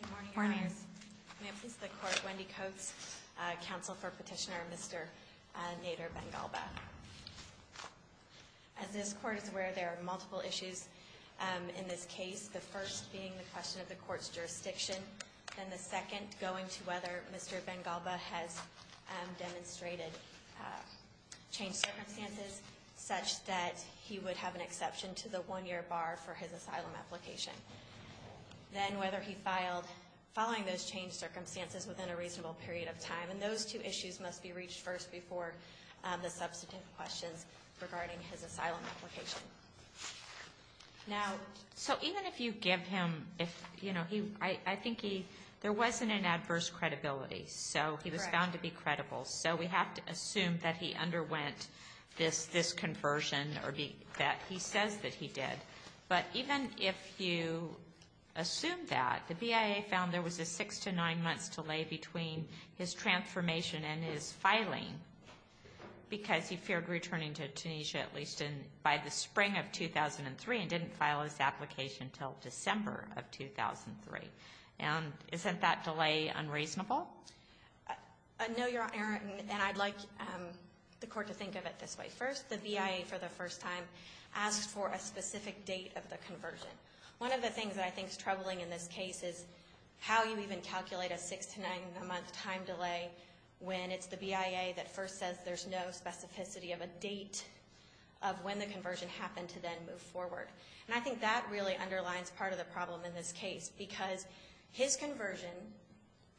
Good morning, Your Honors. May it please the Court, Wendy Coates, Counsel for Petitioner Mr. Nader Ben Ghalba. As this Court is aware, there are multiple issues in this case, the first being the question of the Court's jurisdiction, then the second going to whether Mr. Ben Ghalba has demonstrated changed circumstances, such that he would have an exception to the one-year bar for his asylum application. Then whether he filed following those changed circumstances within a reasonable period of time. And those two issues must be reached first before the substantive questions regarding his asylum application. Now, so even if you give him, you know, I think there wasn't an adverse credibility. So he was found to be credible. So we have to assume that he underwent this conversion or that he says that he did. But even if you assume that, the BIA found there was a six to nine months delay between his transformation and his filing because he feared returning to Tunisia at least by the spring of 2003 and didn't file his application until December of 2003. And isn't that delay unreasonable? No, Your Honor, and I'd like the Court to think of it this way. First, the BIA for the first time asked for a specific date of the conversion. One of the things that I think is troubling in this case is how you even calculate a six to nine month time delay when it's the BIA that first says there's no specificity of a date of when the conversion happened to then move forward. And I think that really underlines part of the problem in this case because his conversion,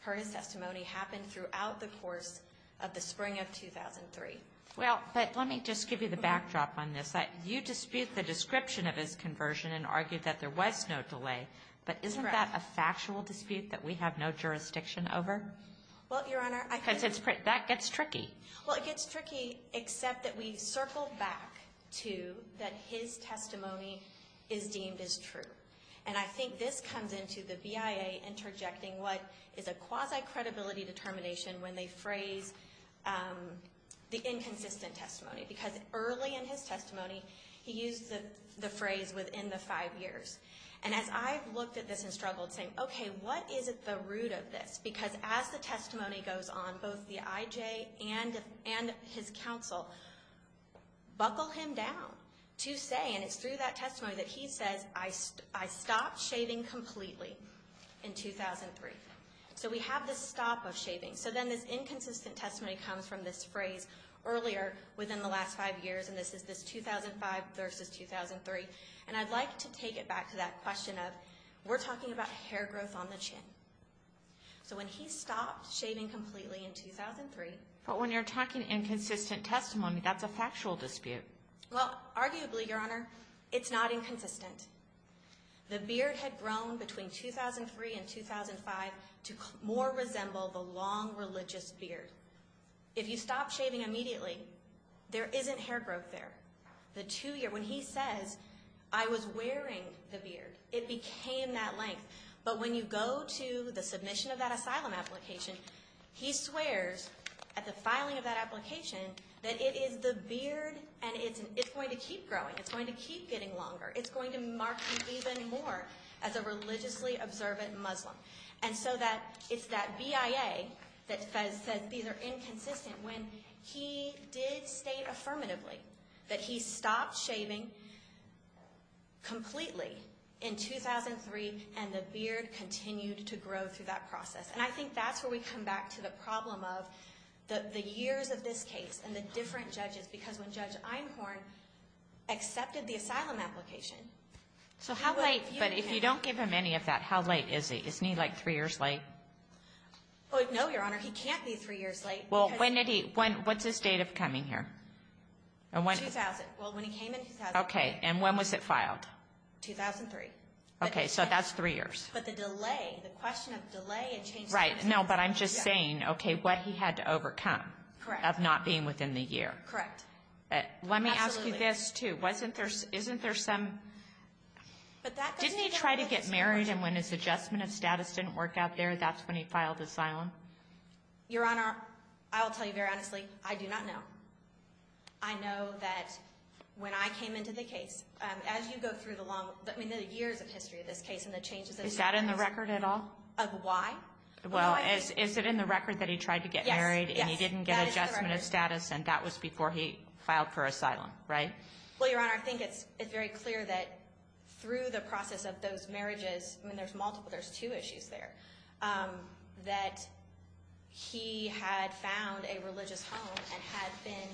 per his testimony, happened throughout the course of the spring of 2003. Well, but let me just give you the backdrop on this. You dispute the description of his conversion and argue that there was no delay. But isn't that a factual dispute that we have no jurisdiction over? Well, Your Honor, I think that's pretty – Because that gets tricky. Well, it gets tricky except that we circle back to that his testimony is deemed as true. And I think this comes into the BIA interjecting what is a quasi-credibility determination when they phrase the inconsistent testimony. Because early in his testimony, he used the phrase within the five years. And as I've looked at this and struggled saying, okay, what is at the root of this? Because as the testimony goes on, both the IJ and his counsel buckle him down to say, and it's through that testimony that he says, I stopped shaving completely in 2003. So we have this stop of shaving. So then this inconsistent testimony comes from this phrase earlier within the last five years, and this is this 2005 versus 2003. And I'd like to take it back to that question of we're talking about hair growth on the chin. So when he stopped shaving completely in 2003 – But when you're talking inconsistent testimony, that's a factual dispute. Well, arguably, Your Honor, it's not inconsistent. The beard had grown between 2003 and 2005 to more resemble the long religious beard. If you stop shaving immediately, there isn't hair growth there. The two years – when he says, I was wearing the beard, it became that length. But when you go to the submission of that asylum application, he swears at the filing of that application that it is the beard and it's going to keep growing. It's going to keep getting longer. It's going to mark him even more as a religiously observant Muslim. And so it's that BIA that says these are inconsistent when he did state affirmatively that he stopped shaving completely in 2003, and the beard continued to grow through that process. And I think that's where we come back to the problem of the years of this case and the different judges, because when Judge Einhorn accepted the asylum application – So how late – but if you don't give him any of that, how late is he? Isn't he like three years late? No, Your Honor, he can't be three years late. Well, when did he – what's his date of coming here? 2000. Well, when he came in 2000. Okay, and when was it filed? 2003. Okay, so that's three years. But the delay, the question of delay – Right, no, but I'm just saying, okay, what he had to overcome of not being within the year. Correct. Let me ask you this, too. Isn't there some – didn't he try to get married and when his adjustment of status didn't work out there, that's when he filed asylum? Your Honor, I will tell you very honestly, I do not know. I know that when I came into the case, as you go through the long – I mean, the years of history of this case and the changes – Is that in the record at all? Of why? Well, is it in the record that he tried to get married and he didn't get adjustment of status and that was before he filed for asylum, right? Well, Your Honor, I think it's very clear that through the process of those marriages – I mean, there's multiple, there's two issues there – that he had found a religious home and had been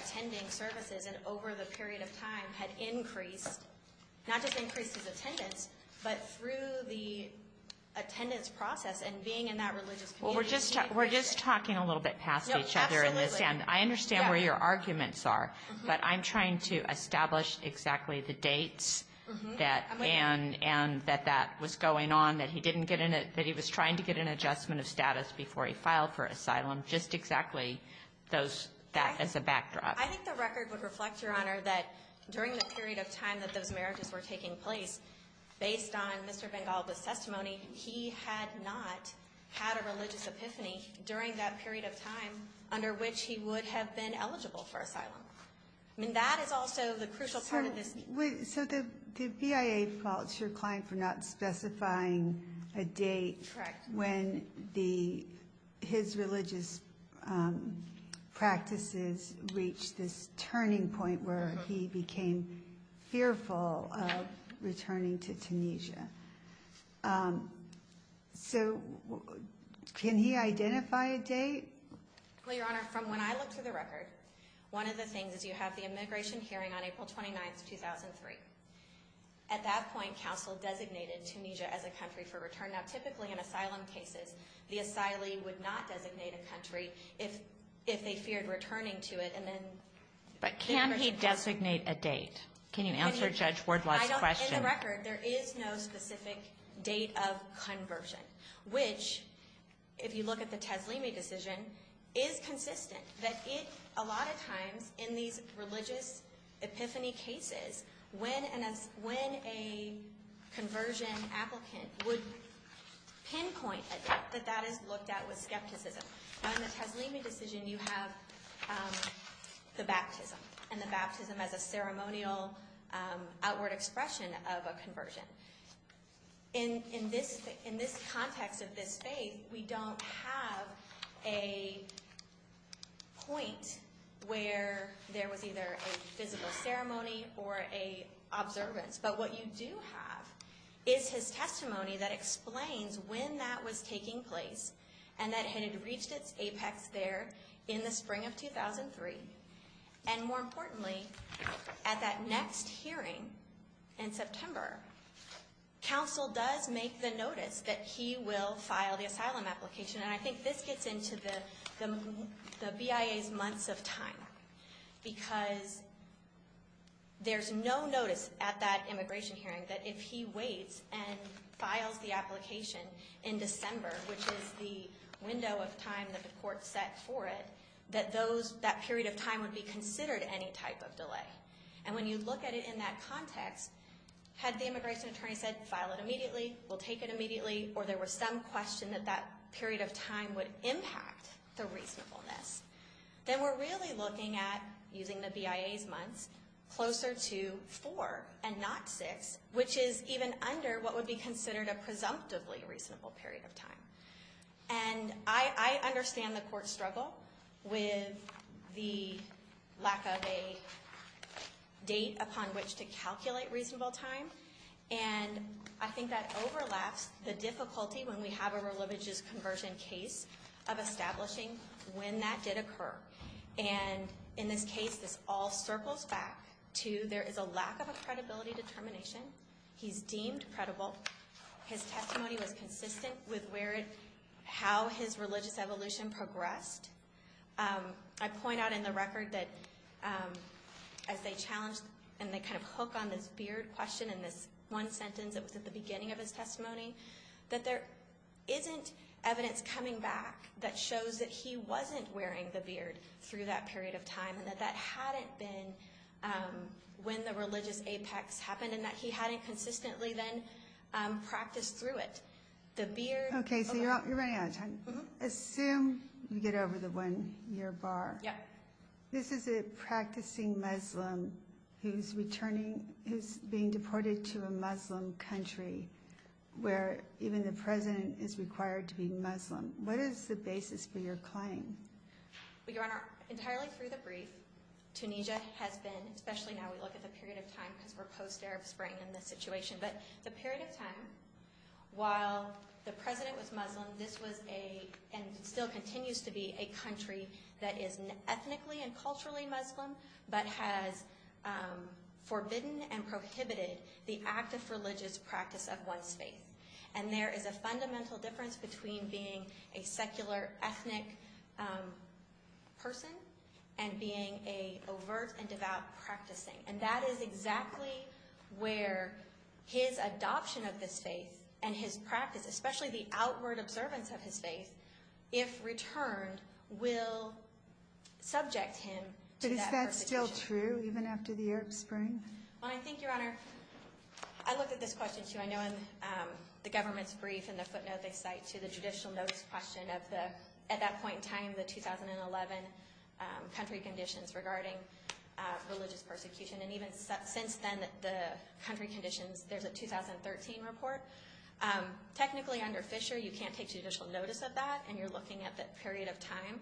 attending services and over the period of time had increased – not just increased his attendance, but through the attendance process and being in that religious community – Well, we're just talking a little bit past each other in this. And I understand where your arguments are, but I'm trying to establish exactly the dates and that that was going on, that he was trying to get an adjustment of status before he filed for asylum, just exactly that as a backdrop. I think the record would reflect, Your Honor, that during the period of time that those marriages were taking place, based on Mr. Bengal's testimony, he had not had a religious epiphany during that period of time under which he would have been eligible for asylum. I mean, that is also the crucial part of this. So the BIA faults your client for not specifying a date when his religious practices reached this turning point where he became fearful of returning to Tunisia. So can he identify a date? Well, Your Honor, from when I looked through the record, one of the things is you have the immigration hearing on April 29, 2003. At that point, counsel designated Tunisia as a country for return. Now, typically in asylum cases, the asylee would not designate a country if they feared returning to it and then – But can he designate a date? Can you answer Judge Wardlaw's question? In the record, there is no specific date of conversion, which, if you look at the Teslimi decision, is consistent. That it, a lot of times, in these religious epiphany cases, when a conversion applicant would pinpoint a date, that that is looked at with skepticism. In the Teslimi decision, you have the baptism, and the baptism as a ceremonial outward expression of a conversion. In this context of this faith, we don't have a point where there was either a physical ceremony or an observance. But what you do have is his testimony that explains when that was taking place and that it had reached its apex there in the spring of 2003. And more importantly, at that next hearing in September, counsel does make the notice that he will file the asylum application. And I think this gets into the BIA's months of time. Because there's no notice at that immigration hearing that if he waits and files the application in December, which is the window of time that the court set for it, that that period of time would be considered any type of delay. And when you look at it in that context, had the immigration attorney said, file it immediately, we'll take it immediately, or there was some question that that period of time would impact the reasonableness, then we're really looking at, using the BIA's months, closer to four and not six, which is even under what would be considered a presumptively reasonable period of time. And I understand the court's struggle with the lack of a date upon which to calculate reasonable time. And I think that overlaps the difficulty when we have a religious conversion case of establishing when that did occur. And in this case, this all circles back to there is a lack of a credibility determination. He's deemed credible. His testimony was consistent with how his religious evolution progressed. I point out in the record that as they challenged and they kind of hook on this beard question in this one sentence that was at the beginning of his testimony, that there isn't evidence coming back that shows that he wasn't wearing the beard through that period of time and that that hadn't been when the religious apex happened and that he hadn't consistently then practiced through it. Okay, so you're running out of time. Assume you get over the one-year bar. This is a practicing Muslim who's being deported to a Muslim country where even the president is required to be Muslim. What is the basis for your claim? Your Honor, entirely through the brief, Tunisia has been, especially now we look at the period of time because we're post-Arab Spring in this situation. But the period of time while the president was Muslim, this was a, and still continues to be, a country that is ethnically and culturally Muslim but has forbidden and prohibited the active religious practice of one's faith. And there is a fundamental difference between being a secular ethnic person and being an overt and devout practicing. And that is exactly where his adoption of this faith and his practice, especially the outward observance of his faith, if returned, will subject him to that persecution. But is that still true even after the Arab Spring? Well, I think, Your Honor, I looked at this question too. I know in the government's brief in the footnote they cite to the judicial notice question of the, at that point in time, the 2011 country conditions regarding religious persecution. And even since then, the country conditions, there's a 2013 report. Technically, under Fisher, you can't take judicial notice of that, and you're looking at that period of time.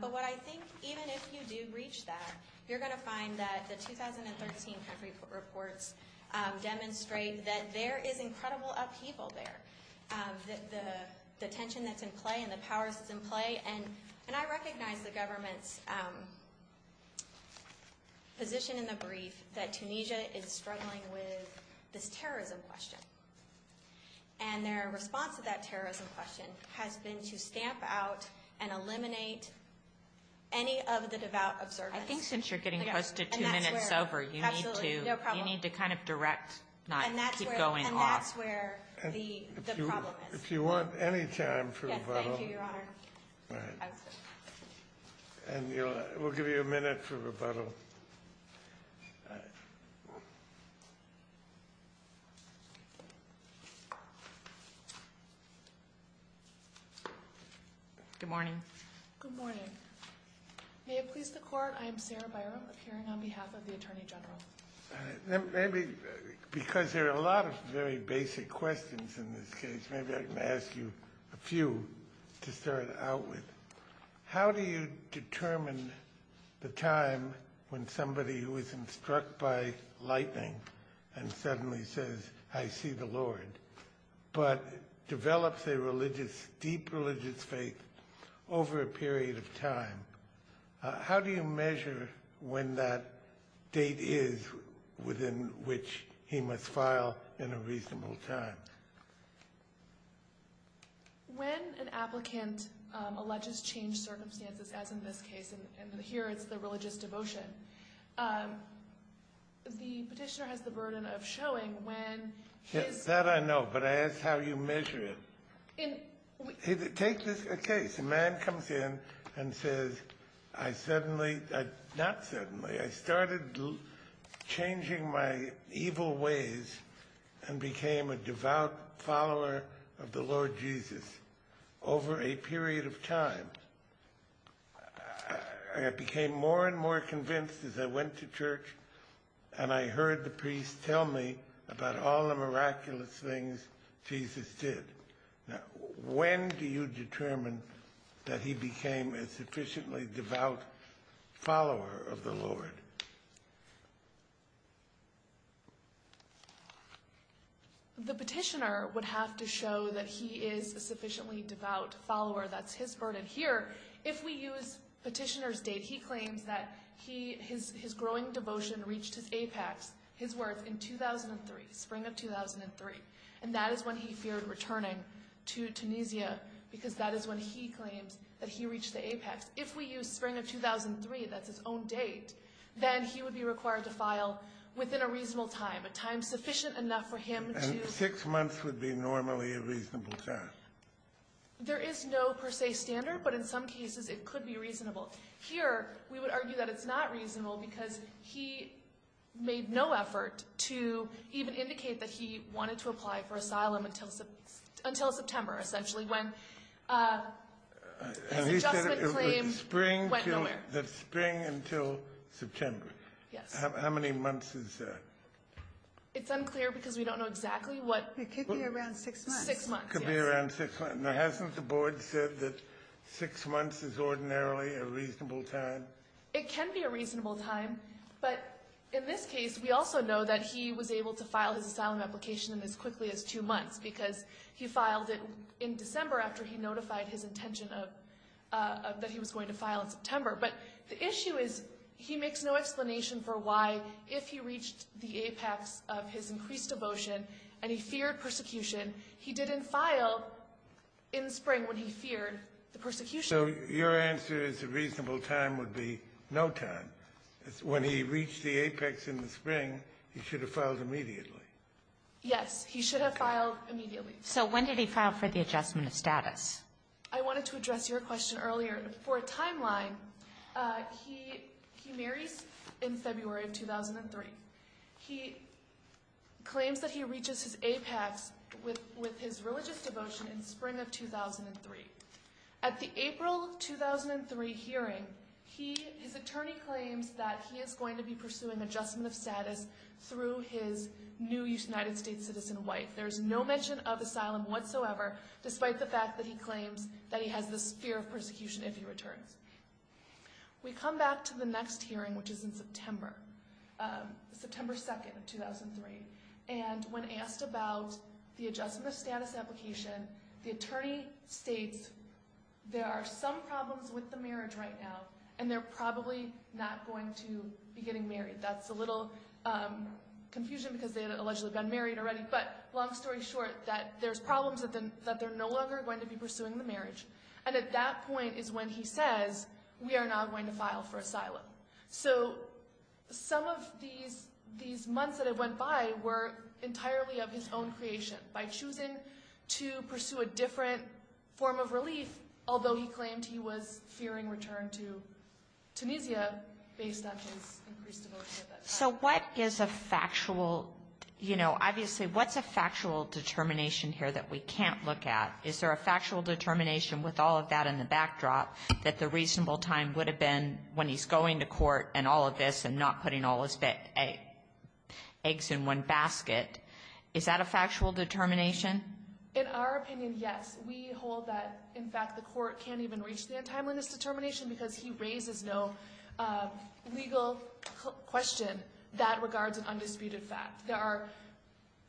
But what I think, even if you do reach that, you're going to find that the 2013 country reports demonstrate that there is incredible upheaval there. The tension that's in play and the powers that's in play. And I recognize the government's position in the brief that Tunisia is struggling with this terrorism question. And their response to that terrorism question has been to stamp out and eliminate any of the devout observance. I think since you're getting close to two minutes over, you need to kind of direct, not keep going off. That's where the problem is. If you want any time for rebuttal. Yes, thank you, Your Honor. All right. And we'll give you a minute for rebuttal. Good morning. Good morning. May it please the Court, I am Sarah Byrum, appearing on behalf of the Attorney General. Maybe because there are a lot of very basic questions in this case, maybe I can ask you a few to start out with. How do you determine the time when somebody who is instructed by lightning and suddenly says, I see the Lord, but develops a religious, deep religious faith over a period of time? How do you measure when that date is within which he must file in a reasonable time? When an applicant alleges changed circumstances, as in this case, and here it's the religious devotion, the petitioner has the burden of showing when his – That I know, but I ask how you measure it. Take this case. A man comes in and says, I suddenly – not suddenly. I started changing my evil ways and became a devout follower of the Lord Jesus over a period of time. I became more and more convinced as I went to church and I heard the priest tell me about all the miraculous things Jesus did. When do you determine that he became a sufficiently devout follower of the Lord? The petitioner would have to show that he is a sufficiently devout follower. That's his burden. Here, if we use petitioner's date, he claims that his growing devotion reached his apex, his worth, in 2003, spring of 2003. And that is when he feared returning to Tunisia because that is when he claims that he reached the apex. If we use spring of 2003, that's his own date, then he would be required to file within a reasonable time, a time sufficient enough for him to – And six months would be normally a reasonable time. There is no per se standard, but in some cases it could be reasonable. Here, we would argue that it's not reasonable because he made no effort to even indicate that he wanted to apply for asylum until September, essentially, when his adjustment claim went nowhere. And he said it was spring until September. Yes. How many months is that? It's unclear because we don't know exactly what – Six months, yes. It could be around six months. Now, hasn't the board said that six months is ordinarily a reasonable time? It can be a reasonable time. But in this case, we also know that he was able to file his asylum application in as quickly as two months because he filed it in December after he notified his intention of – that he was going to file in September. But the issue is he makes no explanation for why, if he reached the apex of his increased devotion and he feared persecution, he didn't file in spring when he feared the persecution. So your answer is a reasonable time would be no time. When he reached the apex in the spring, he should have filed immediately. Yes. He should have filed immediately. So when did he file for the adjustment of status? I wanted to address your question earlier. For a timeline, he marries in February of 2003. He claims that he reaches his apex with his religious devotion in spring of 2003. At the April of 2003 hearing, his attorney claims that he is going to be pursuing adjustment of status through his new United States citizen wife. There is no mention of asylum whatsoever, despite the fact that he claims that he has this fear of persecution if he returns. We come back to the next hearing, which is in September, September 2nd of 2003. And when asked about the adjustment of status application, the attorney states there are some problems with the marriage right now, and they're probably not going to be getting married. That's a little confusion because they had allegedly been married already. But long story short, that there's problems that they're no longer going to be pursuing the marriage. And at that point is when he says, we are now going to file for asylum. So some of these months that have went by were entirely of his own creation. By choosing to pursue a different form of relief, although he claimed he was fearing return to Tunisia based on his increased devotion at that time. So what is a factual, you know, obviously, what's a factual determination here that we can't look at? Is there a factual determination with all of that in the backdrop that the reasonable time would have been when he's going to court and all of this and not putting all his eggs in one basket? Is that a factual determination? In our opinion, yes. We hold that, in fact, the Court can't even reach the untimeliness determination because he raises no legal question that regards an undisputed fact.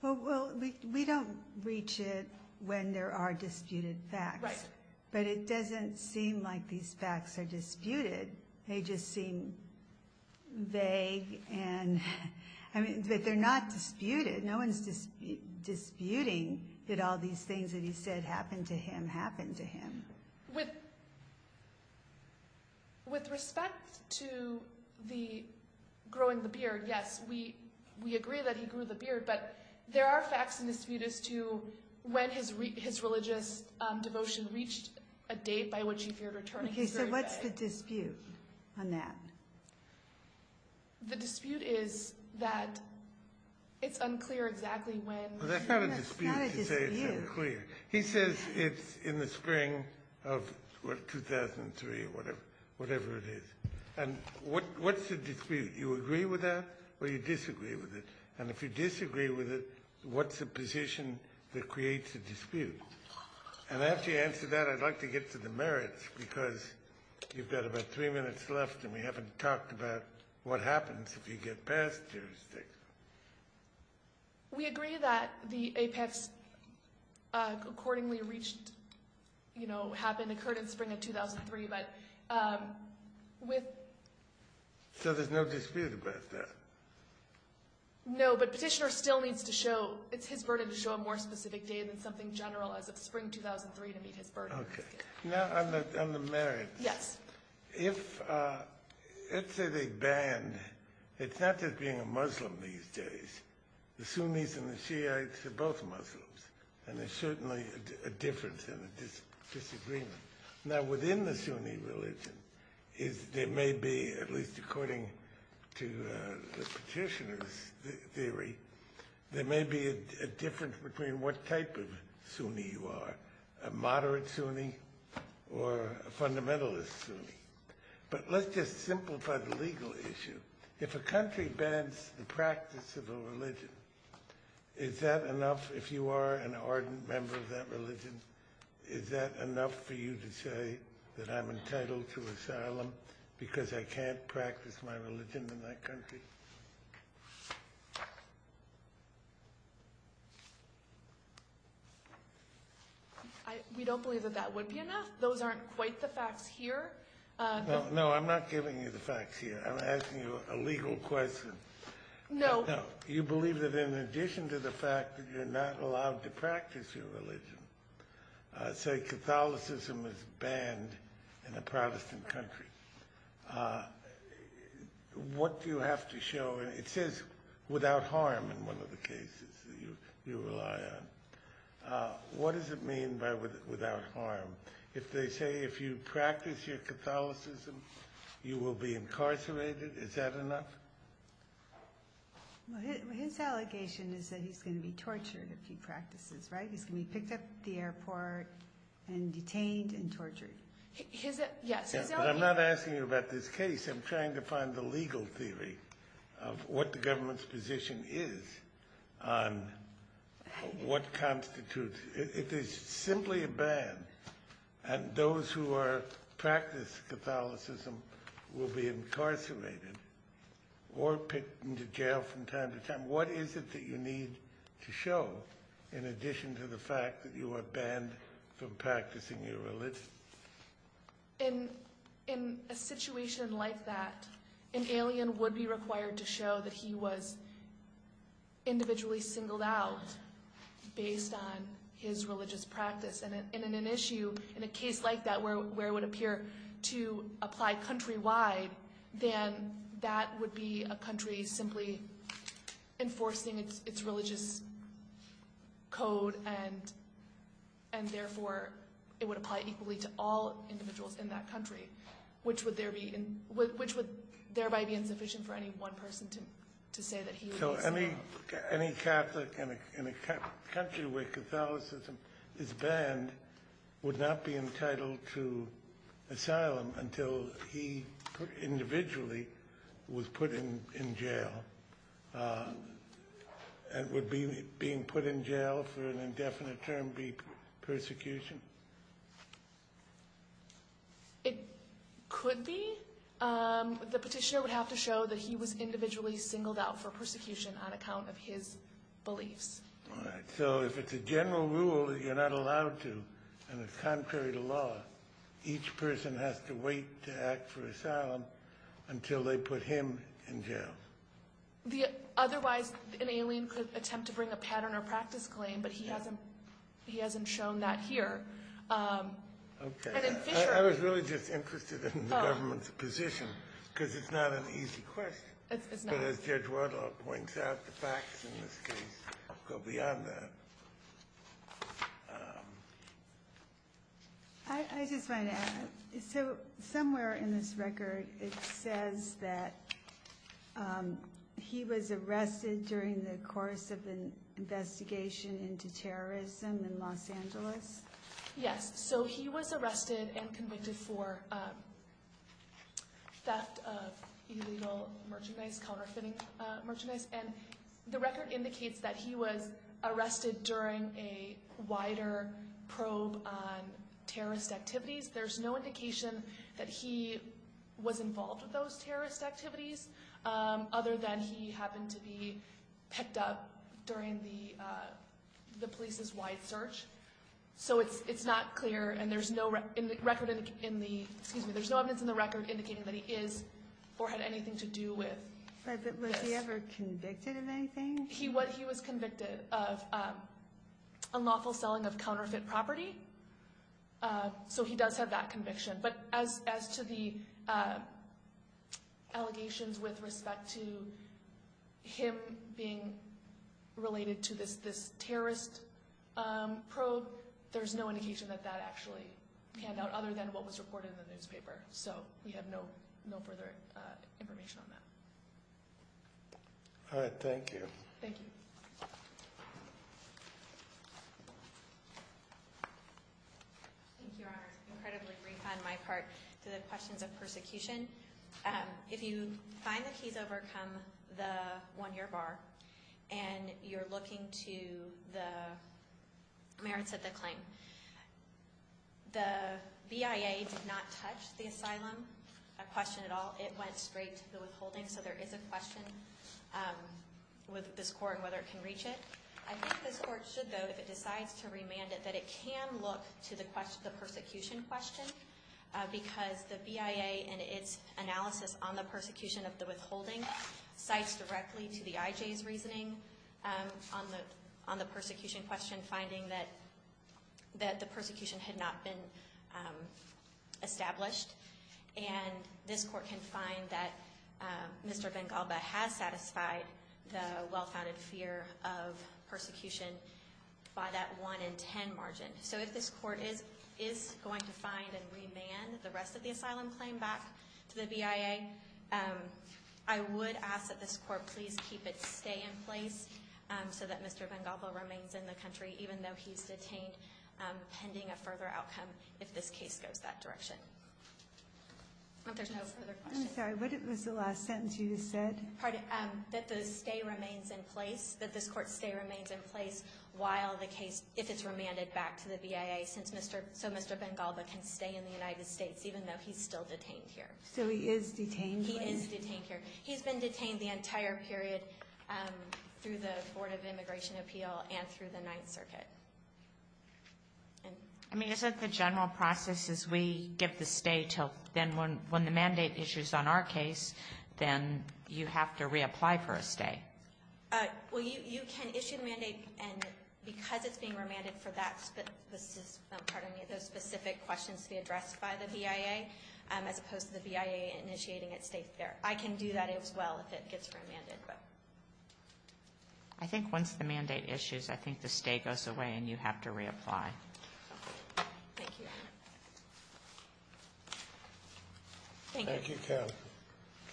Well, we don't reach it when there are disputed facts. Right. But it doesn't seem like these facts are disputed. They just seem vague and, I mean, but they're not disputed. No one's disputing that all these things that he said happened to him happened to him. With respect to the growing the beard, yes, we agree that he grew the beard, but there are facts in dispute as to when his religious devotion reached a date by which he feared returning. Okay, so what's the dispute on that? The dispute is that it's unclear exactly when. Well, that's not a dispute to say it's unclear. He says it's in the spring of 2003 or whatever it is. And what's the dispute? You agree with that or you disagree with it? And if you disagree with it, what's the position that creates the dispute? And after you answer that, I'd like to get to the merits because you've got about three minutes left and we haven't talked about what happens if you get past jurisdiction. We agree that the apex accordingly reached, you know, happened, occurred in the spring of 2003, but with... So there's no dispute about that? No, but Petitioner still needs to show, it's his burden to show a more specific date than something general as of spring 2003 to meet his burden. Okay. Now on the merits. Yes. If, let's say they banned, it's not just being a Muslim these days. The Sunnis and the Shiites are both Muslims and there's certainly a difference and a disagreement. Now within the Sunni religion is there may be, at least according to the Petitioner's theory, there may be a difference between what type of Sunni you are, a moderate Sunni or a fundamentalist Sunni. But let's just simplify the legal issue. If a country bans the practice of a religion, is that enough if you are an ardent member of that religion? Is that enough for you to say that I'm entitled to asylum because I can't practice my religion in that country? We don't believe that that would be enough. Those aren't quite the facts here. No, I'm not giving you the facts here. I'm asking you a legal question. No. You believe that in addition to the fact that you're not allowed to practice your religion, say Catholicism is banned in a Protestant country, what do you have to show? It says without harm in one of the cases that you rely on. What does it mean by without harm? If they say if you practice your Catholicism you will be incarcerated, is that enough? His allegation is that he's going to be tortured if he practices, right? He's going to be picked up at the airport and detained and tortured. I'm not asking you about this case. I'm trying to find the legal theory of what the government's position is on what constitutes. If it's simply a ban and those who practice Catholicism will be incarcerated or picked into jail from time to time, then what is it that you need to show in addition to the fact that you are banned from practicing your religion? In a situation like that, an alien would be required to show that he was individually singled out based on his religious practice. And in an issue, in a case like that where it would appear to apply countrywide, then that would be a country simply enforcing its religious code and therefore it would apply equally to all individuals in that country, which would thereby be insufficient for any one person to say that he was singled out. So any Catholic in a country where Catholicism is banned would not be entitled to asylum until he individually was put in jail. And would being put in jail for an indefinite term be persecution? It could be. The petitioner would have to show that he was individually singled out for persecution on account of his beliefs. All right. So if it's a general rule that you're not allowed to and it's contrary to law, each person has to wait to act for asylum until they put him in jail. Otherwise, an alien could attempt to bring a pattern or practice claim, but he hasn't shown that here. And in Fisher ---- I was really just interested in the government's position, because it's not an easy question. It's not. But as Judge Wardle points out, the facts in this case go beyond that. I just wanted to add. So somewhere in this record it says that he was arrested during the course of an investigation into terrorism in Los Angeles. Yes. So he was arrested and convicted for theft of illegal merchandise, counterfeiting merchandise. And the record indicates that he was arrested during a wider probe on terrorist activities. There's no indication that he was involved with those terrorist activities other than he happened to be picked up during the police's wide search. So it's not clear. And there's no record in the ---- excuse me, there's no evidence in the record indicating that he is or had anything to do with this. But was he ever convicted of anything? He was convicted of unlawful selling of counterfeit property. So he does have that conviction. But as to the allegations with respect to him being related to this terrorist probe, there's no indication that that actually panned out other than what was reported in the newspaper. So we have no further information on that. All right. Thank you. Thank you. Thank you, Your Honor. It's incredibly brief on my part to the questions of persecution. If you find that he's overcome the one-year bar and you're looking to the merits of the claim, the BIA did not touch the asylum question at all. It went straight to the withholding. So there is a question with this court on whether it can reach it. I think this court should, though, if it decides to remand it, that it can look to the persecution question because the BIA and its analysis on the persecution of the withholding cites directly to the IJ's reasoning on the persecution question, finding that the persecution had not been established. And this court can find that Mr. Vengalba has satisfied the well-founded fear of persecution by that 1 in 10 margin. So if this court is going to find and remand the rest of the asylum claim back to the BIA, I would ask that this court please keep its stay in place so that Mr. Vengalba remains in the country, even though he's detained pending a further outcome if this case goes that direction. If there's no further questions. I'm sorry, what was the last sentence you just said? That the stay remains in place, that this court's stay remains in place while the case, if it's remanded back to the BIA so Mr. Vengalba can stay in the United States even though he's still detained here. So he is detained here? He is detained here. He's been detained the entire period through the Board of Immigration Appeal and through the Ninth Circuit. I mean, isn't the general process is we give the stay till then when the mandate issues on our case, then you have to reapply for a stay? Well, you can issue the mandate, and because it's being remanded for that specific, pardon me, those specific questions to be addressed by the BIA as opposed to the BIA initiating its stay there. I can do that as well if it gets remanded, but. I think once the mandate issues, I think the stay goes away and you have to reapply. Thank you. Thank you. Thank you, Captain.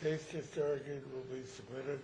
The case is adjourned and will be submitted.